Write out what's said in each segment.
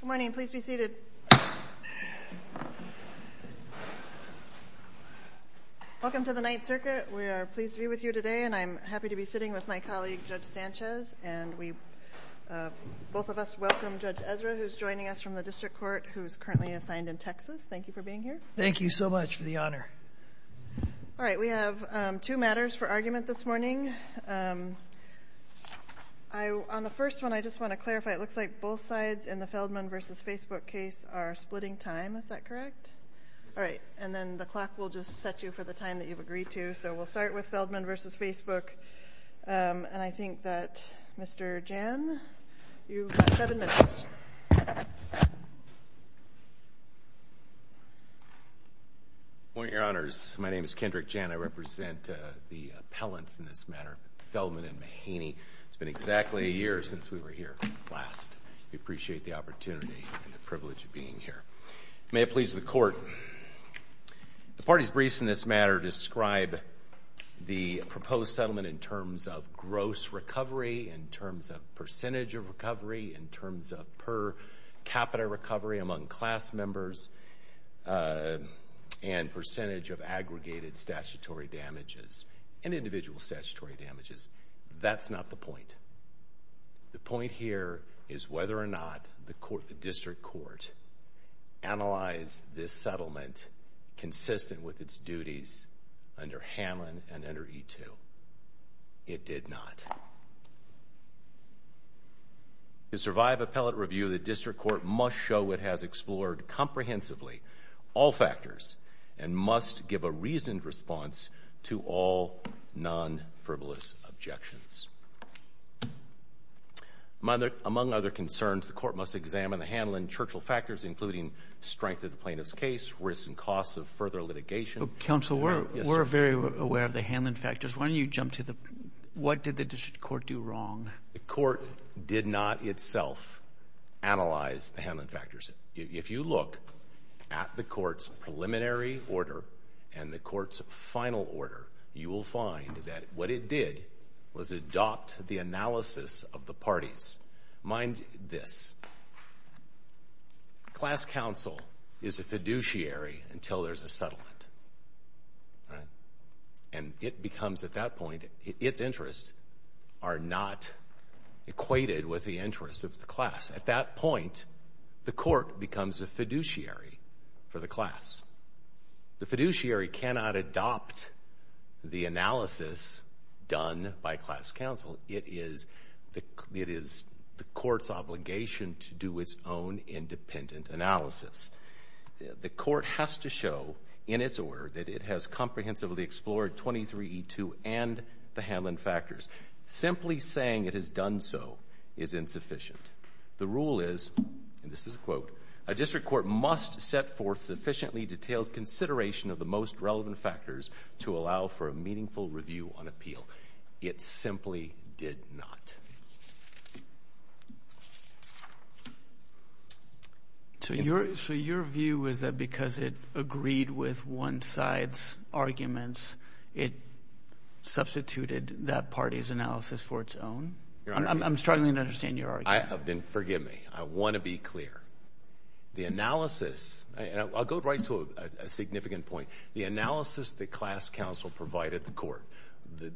Good morning, please be seated. Welcome to the Ninth Circuit. We are pleased to be with you today, and I'm happy to be sitting with my colleague, Judge Sanchez. Both of us welcome Judge Ezra, who's joining us from the District Court, who's currently assigned in Texas. Thank you for being here. Thank you so much for the honor. All right, we have two matters for argument this morning. On the first one, I just want to clarify, it looks like both sides in the Feldman v. Facebook case are splitting time, is that correct? All right, and then the clock will just set you for the time that you've agreed to, so we'll start with Feldman v. Facebook, and I think that Mr. Jan, you've got seven minutes. Good morning, Your Honors. My name is Kendrick Jan. I represent the appellants in this matter, Feldman and Mahaney. It's been exactly a year since we were here last. We appreciate the opportunity and the privilege of being here. May it please the Court, the party's briefs in this matter describe the proposed settlement in terms of gross recovery, in terms of percentage of recovery, in terms of per capita recovery among class members, and percentage of aggregated statutory damages and individual statutory damages. That's not the point. The point here is whether or not the District Court analyzed this settlement consistent with its duties under Hamlin and under E-2. It did not. To survive appellate review, the District Court must show it has explored comprehensively all factors and must give a reasoned response to all non-frivolous objections. Among other concerns, the Court must examine the Hamlin-Churchill factors, including strength of the plaintiff's case, risks and costs of further litigation. Counsel, we're very aware of the Hamlin factors. Why don't you jump to the, what did the District Court do wrong? The Court did not itself analyze the Hamlin factors. If you look at the Court's preliminary order and the Court's final order, you will find that what it did was adopt the analysis of the parties. Mind this. Class counsel is a fiduciary until there's a settlement. And it becomes, at that point, its interests are not equated with the interests of the At that point, the Court becomes a fiduciary for the class. The fiduciary cannot adopt the analysis done by class counsel. It is the Court's obligation to do its own independent analysis. The Court has to show in its order that it has comprehensively explored 23E2 and the Hamlin factors. Simply saying it has done so is insufficient. The rule is, and this is a quote, a district court must set forth sufficiently detailed consideration of the most relevant factors to allow for a meaningful review on appeal. It simply did not. So your, so your view is that because it agreed with one side's arguments, it substituted that party's analysis for its own? I'm struggling to understand your argument. Forgive me. I want to be clear. The analysis, and I'll go right to a significant point. The analysis that class counsel provided the Court,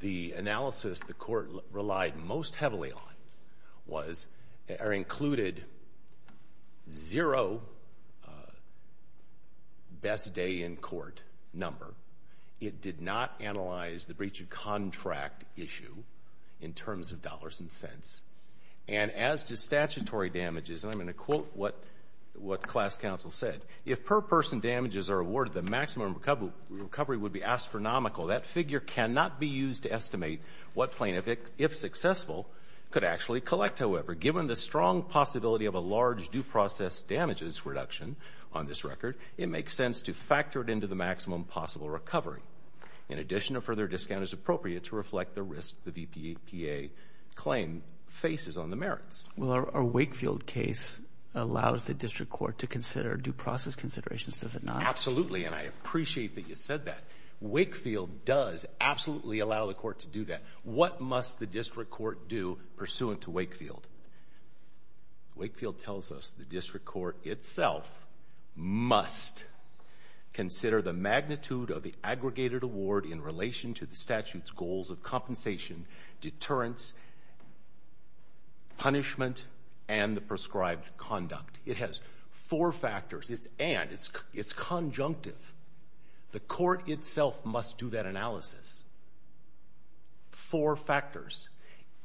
the analysis the Court relied most heavily on was, included zero best day in court number. It did not analyze the breach of contract issue in terms of dollars and cents. And as to statutory damages, and I'm going to quote what class counsel said, if per person damages are awarded, the maximum recovery would be astronomical. That figure cannot be used to estimate what plaintiff, if successful, could actually collect. However, given the strong possibility of a large due process damages reduction on this record, it makes sense to factor it into the maximum possible recovery. In addition, a further discount is appropriate to reflect the risk the VPA claim faces on the merits. Well, our Wakefield case allows the district court to consider due process considerations. Does it not? And I appreciate that you said that. Wakefield does absolutely allow the Court to do that. What must the district court do pursuant to Wakefield? Wakefield tells us the district court itself must consider the magnitude of the aggregated award in relation to the statute's goals of compensation, deterrence, punishment, and the prescribed conduct. It has four factors, and it's conjunctive. The Court itself must do that analysis. Four factors.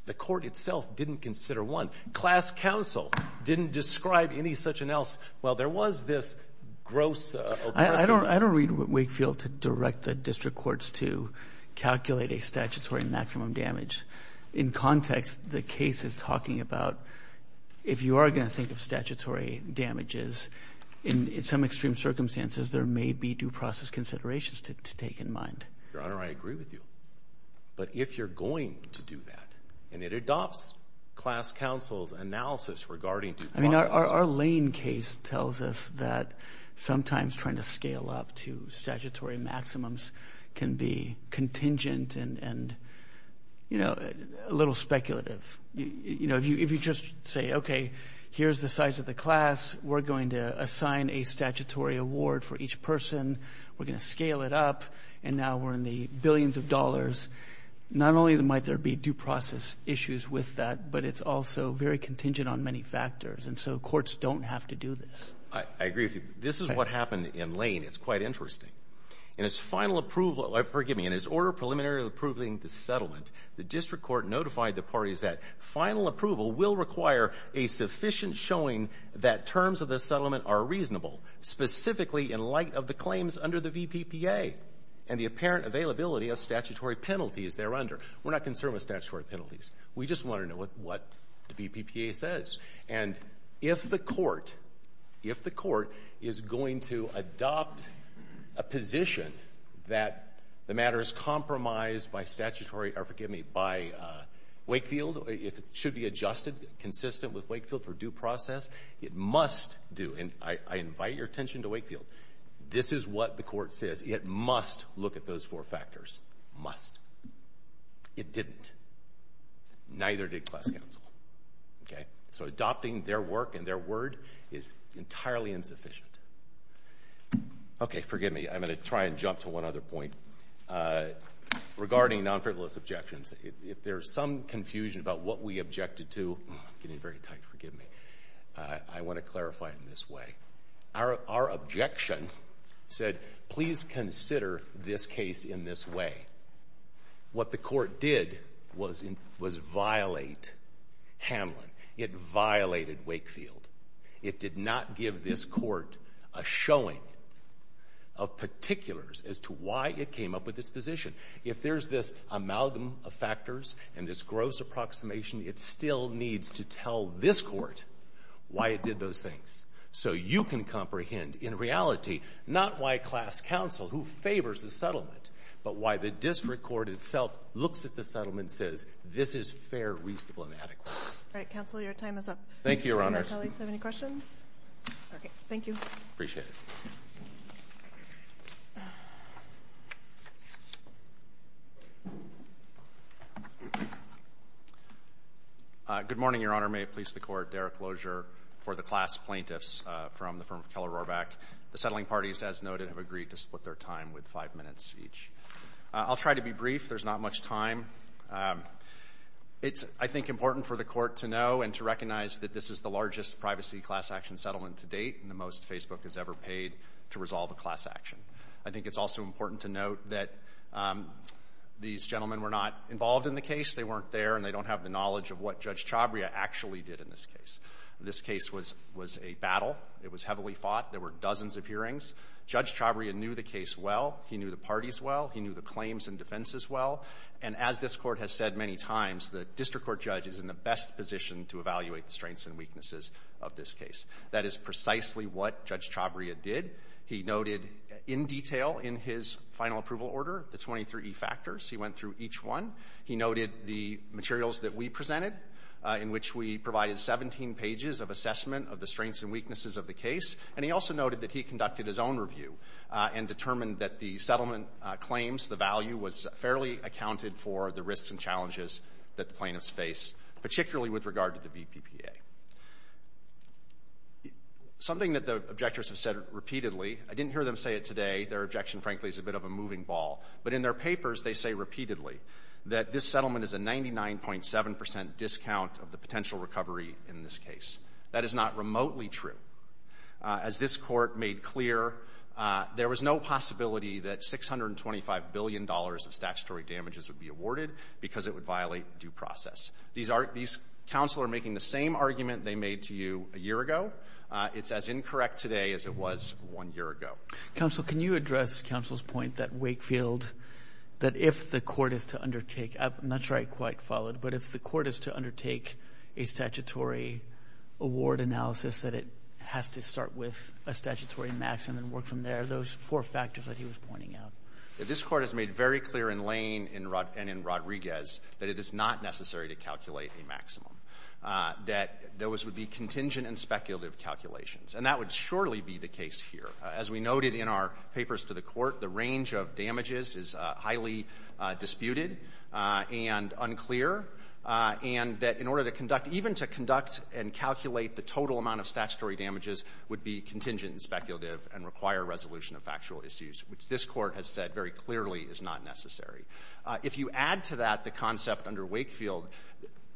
The Court itself didn't consider one. Class counsel didn't describe any such analysis. Well, there was this gross oppression. I don't read Wakefield to direct the district courts to calculate a statutory maximum damage. In context, the case is talking about if you are going to think of statutory damages, in some extreme circumstances, there may be due process considerations to take in mind. Your Honor, I agree with you. But if you're going to do that, and it adopts class counsel's analysis regarding due process I mean, our Lane case tells us that sometimes trying to scale up to statutory maximums can be contingent and, you know, a little speculative. You know, if you just say, okay, here's the size of the class, we're going to assign a statutory award for each person, we're going to scale it up, and now we're in the billions of dollars, not only might there be due process issues with that, but it's also very contingent on many factors. And so courts don't have to do this. I agree with you. This is what happened in Lane. It's quite interesting. In its final approval, or forgive me, in its order preliminary approving the settlement, the district court notified the parties that final approval will require a sufficient showing that terms of the settlement are reasonable, specifically in light of the claims under the VPPA and the apparent availability of statutory penalties thereunder. We're not concerned with statutory penalties. We just want to know what the VPPA says. And if the court, if the court is going to adopt a position that the matter is compromised by statutory, or forgive me, by Wakefield, if it should be adjusted consistent with Wakefield for due process, it must do. And I invite your attention to Wakefield. This is what the court says. It must look at those four factors. Must. It didn't. Neither did class counsel. Okay? So adopting their work and their word is entirely insufficient. Okay, forgive me, I'm going to try and jump to one other point. Regarding non-frivolous objections, if there's some confusion about what we objected to, I'm getting very tight, forgive me, I want to clarify it in this way. Our objection said, please consider this case in this way. What the court did was violate Hamlin. It violated Wakefield. It did not give this court a showing of particulars as to why it came up with this position. If there's this amalgam of factors and this gross approximation, it still needs to tell this court why it did those things. So you can comprehend, in reality, not why class counsel, who favors the settlement, but why the district court itself looks at the settlement and says, this is fair, reasonable, and adequate. All right, counsel, your time is up. Thank you, Your Honor. Do the colleagues have any questions? Okay, thank you. Appreciate it. Good morning, Your Honor. May it please the Court, Derek Lozier for the class plaintiffs from the firm of Keller-Rorbach. The settling parties, as noted, have agreed to split their time with five minutes each. I'll try to be brief. There's not much time. It's, I think, important for the court to know and to recognize that this is the largest privacy class action settlement to date, and the most Facebook has ever paid to resolve a class action. I think it's also important to note that these gentlemen were not involved in the case. They weren't there, and they don't have the knowledge of what Judge Chabria actually did in this case. This case was a battle. It was heavily fought. There were dozens of hearings. Judge Chabria knew the case well. He knew the parties well. He knew the claims and defenses well. And as this Court has said many times, the district court judge is in the best position to evaluate the strengths and weaknesses of this case. That is precisely what Judge Chabria did. He noted in detail in his final approval order the 23E factors. He went through each one. He noted the materials that we presented, in which we provided 17 pages of assessment of the strengths and weaknesses of the case. And he also noted that he conducted his own review and determined that the settlement claims, the value was fairly accounted for the risks and challenges that the plaintiffs face, particularly with regard to the BPPA. Something that the objectors have said repeatedly, I didn't hear them say it today. Their objection, frankly, is a bit of a moving ball. But in their papers, they say repeatedly that this settlement is a 99.7 percent discount of the potential recovery in this case. That is not remotely true. As this Court made clear, there was no possibility that $625 billion of statutory damages would be awarded because it would violate due process. These counsel are making the same argument they made to you a year ago. It's as incorrect today as it was one year ago. Counsel, can you address counsel's point that Wakefield, that if the Court is to undertake – I'm not sure I quite followed – but if the Court is to undertake a statutory award analysis, that it has to start with a statutory maximum and work from there? Those four factors that he was pointing out. This Court has made very clear in Lane and in Rodriguez that it is not necessary to calculate a maximum, that those would be contingent and speculative calculations. And that would surely be the case here. As we noted in our papers to the Court, the range of damages is highly disputed and unclear, and that in order to conduct – even to conduct and calculate the total amount of statutory damages would be contingent and speculative and require resolution of factual issues, which this Court has said very clearly is not necessary. If you add to that the concept under Wakefield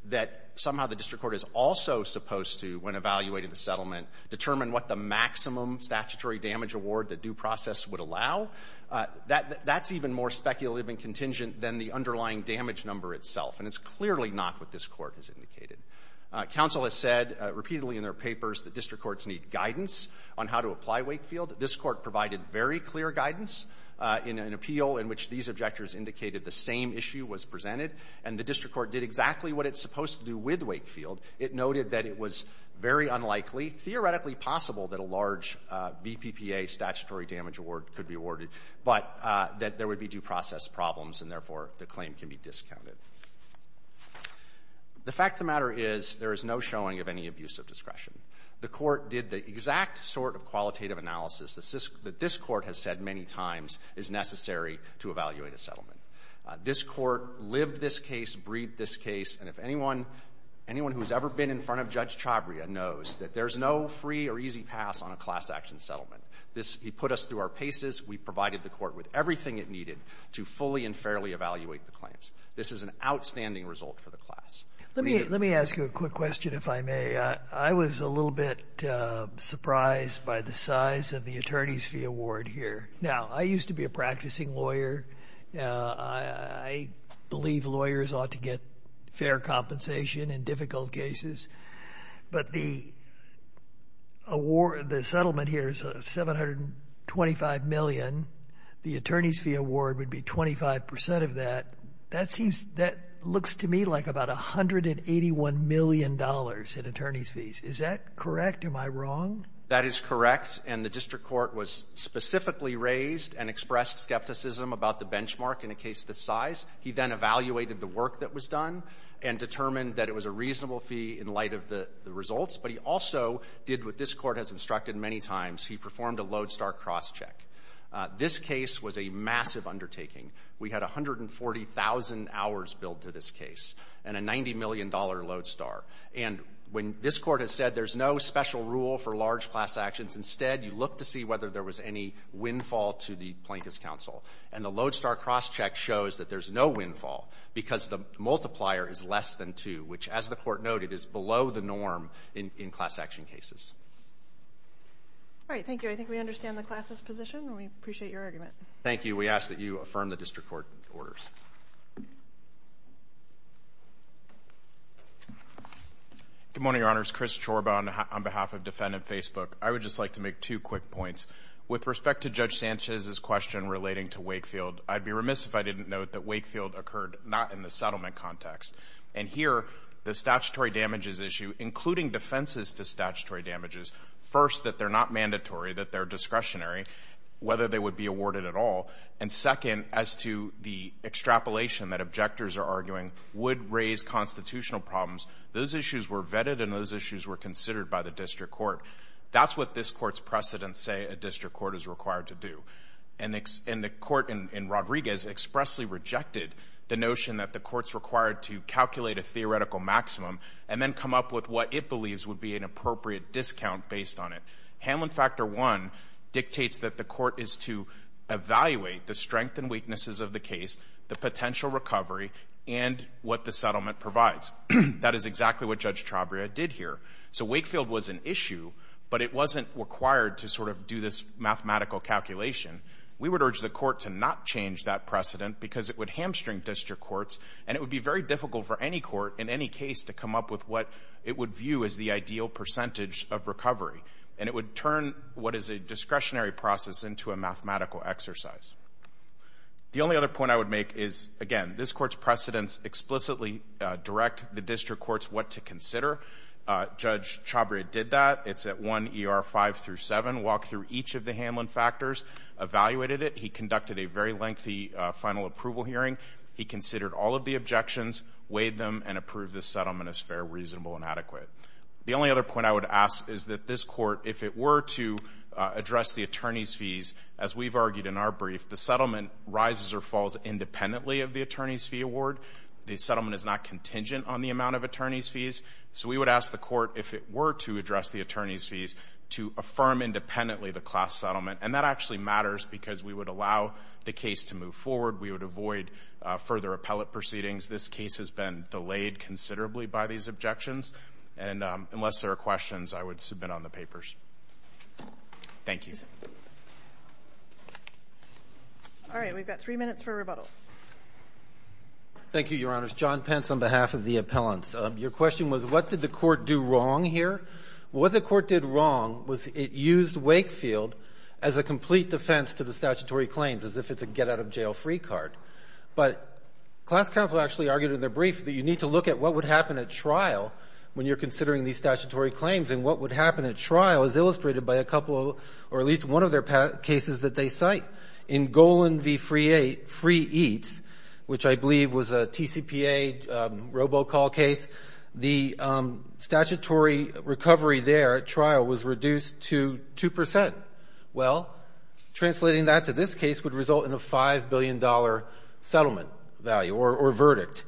that somehow the district court is also supposed to, when evaluating the settlement, determine what the maximum statutory damage award the due process would allow, that's even more speculative and contingent than the underlying damage number itself. And it's clearly not what this Court has indicated. Counsel has said repeatedly in their papers that district courts need guidance on how to apply Wakefield. This Court provided very clear guidance in an appeal in which these objectors indicated the same issue was presented, and the district court did exactly what it's supposed to do with Wakefield. It noted that it was very unlikely, theoretically possible, that a large BPPA statutory damage award could be awarded, but that there would be due process problems, and therefore the claim can be discounted. The fact of the matter is there is no showing of any abuse of discretion. The Court did the exact sort of qualitative analysis that this Court has said many times is necessary to evaluate a settlement. This Court lived this case, breathed this case, and if anyone who's ever been in front of Judge Chabria knows that there's no free or easy pass on a class-action settlement. This he put us through our paces. We provided the Court with everything it needed to fully and fairly evaluate the claims. This is an outstanding result for the class. Let me ask you a quick question, if I may. I was a little bit surprised by the size of the attorney's fee award here. Now, I used to be a practicing lawyer. I believe lawyers ought to get fair compensation in difficult cases, but the settlement here is $725 million. The attorney's fee award would be 25 percent of that. That seems that looks to me like about $181 million in attorney's fees. Is that correct? Am I wrong? That is correct. And the district court was specifically raised and expressed skepticism about the benchmark in a case this size. He then evaluated the work that was done and determined that it was a reasonable fee in light of the results. But he also did what this Court has instructed many times. He performed a lodestar crosscheck. This case was a massive undertaking. We had 140,000 hours billed to this case and a $90 million lodestar. And when this Court has said there's no special rule for large class actions, instead, you look to see whether there was any windfall to the Plaintiff's counsel. And the lodestar crosscheck shows that there's no windfall because the multiplier is less than two, which, as the Court noted, is below the norm in class action cases. All right. Thank you. I think we understand the class's position, and we appreciate your argument. Thank you. We ask that you affirm the district court orders. Good morning, Your Honors. Chris Chorba on behalf of Defendant Facebook. I would just like to make two quick points. With respect to Judge Sanchez's question relating to Wakefield, I'd be remiss if I didn't note that Wakefield occurred not in the settlement context. And here, the statutory damages issue, including defenses to statutory damages, first, that they're not mandatory, that they're discretionary, whether they would be awarded at all. And second, as to the extrapolation that objectors are arguing would raise constitutional problems, those issues were vetted and those issues were considered by the district court. That's what this Court's precedents say a district court is required to do. And the Court in Rodriguez expressly rejected the notion that the Court's required to calculate a theoretical maximum and then come up with what it believes would be an appropriate discount based on it. Hamlin Factor 1 dictates that the Court is to evaluate the strength and weaknesses of the case, the potential recovery, and what the settlement provides. That is exactly what Judge Trabria did here. So Wakefield was an issue, but it wasn't required to sort of do this mathematical calculation. We would urge the Court to not change that precedent because it would hamstring district courts and it would be very difficult for any court in any case to come up with what it would view as the ideal percentage of recovery. And it would turn what is a discretionary process into a mathematical exercise. The only other point I would make is, again, this Court's precedents explicitly direct the district courts what to consider. Judge Trabria did that. It's at 1 ER 5 through 7. Walked through each of the Hamlin factors, evaluated it. He conducted a very lengthy final approval hearing. He considered all of the objections, weighed them, and approved the settlement as fair, reasonable, and adequate. The only other point I would ask is that this Court, if it were to address the attorney's fees, as we've argued in our brief, the settlement rises or falls independently of the attorney's fee award. The settlement is not contingent on the amount of attorney's fees. So we would ask the Court, if it were to address the attorney's fees, to affirm independently the class settlement. And that actually matters because we would allow the case to move forward. We would avoid further appellate proceedings. This case has been delayed considerably by these objections. And unless there are questions, I would submit on the papers. Thank you. All right. We've got three minutes for rebuttal. Thank you, Your Honors. John Pence on behalf of the appellants. Your question was, what did the Court do wrong here? What the Court did wrong was it used Wakefield as a complete defense to the statutory claims, as if it's a get-out-of-jail-free card. But class counsel actually argued in their brief that you need to look at what would at trial when you're considering these statutory claims. And what would happen at trial is illustrated by a couple of, or at least one of their cases that they cite. In Golan v. Free Eats, which I believe was a TCPA robocall case, the statutory recovery there at trial was reduced to 2 percent. Well, translating that to this case would result in a $5 billion settlement value or verdict.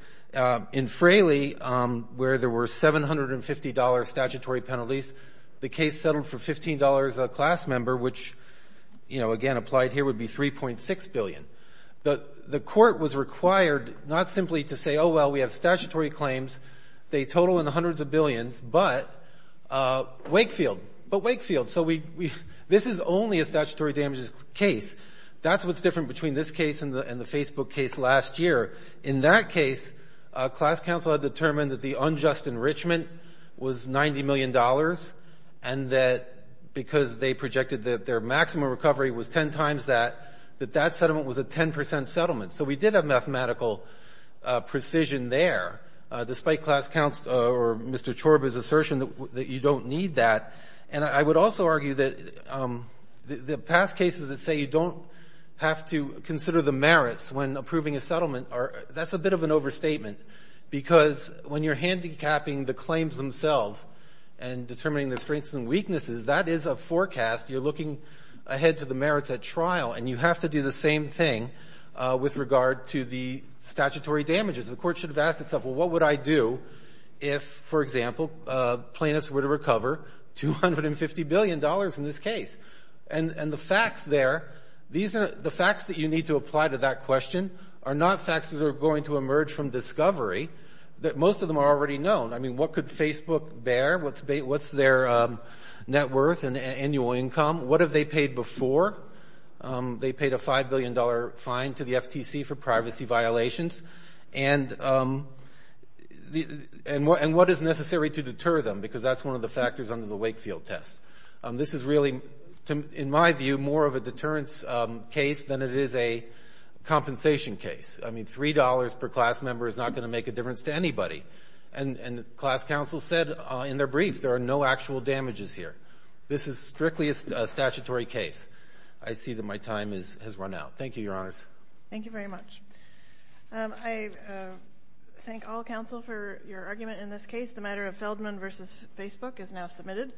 In Fraley, where there were $750 statutory penalties, the case settled for $15 a class member, which, you know, again, applied here would be $3.6 billion. The Court was required not simply to say, oh, well, we have statutory claims, they total in the hundreds of billions, but Wakefield. But Wakefield. So this is only a statutory damages case. That's what's different between this case and the Facebook case last year. In that case, class counsel had determined that the unjust enrichment was $90 million and that because they projected that their maximum recovery was 10 times that, that that settlement was a 10 percent settlement. So we did have mathematical precision there, despite class counsel or Mr. Chorba's assertion that you don't need that. And I would also argue that the past cases that say you don't have to consider the merits when approving a settlement, that's a bit of an overstatement, because when you're handicapping the claims themselves and determining their strengths and weaknesses, that is a forecast. You're looking ahead to the merits at trial, and you have to do the same thing with regard to the statutory damages. The Court should have asked itself, well, what would I do if, for example, plaintiffs were to recover $250 billion in this case? And the facts there, the facts that you need to apply to that question are not facts that are going to emerge from discovery. Most of them are already known. I mean, what could Facebook bear? What's their net worth and annual income? What have they paid before? They paid a $5 billion fine to the FTC for privacy violations. And what is necessary to deter them? Because that's one of the factors under the Wakefield test. This is really, in my view, more of a deterrence case than it is a compensation case. I mean, $3 per class member is not going to make a difference to anybody. And class counsel said in their brief, there are no actual damages here. This is strictly a statutory case. I see that my time has run out. Thank you, Your Honors. Thank you very much. I thank all counsel for your argument in this case. The matter of Feldman v. Facebook is now submitted.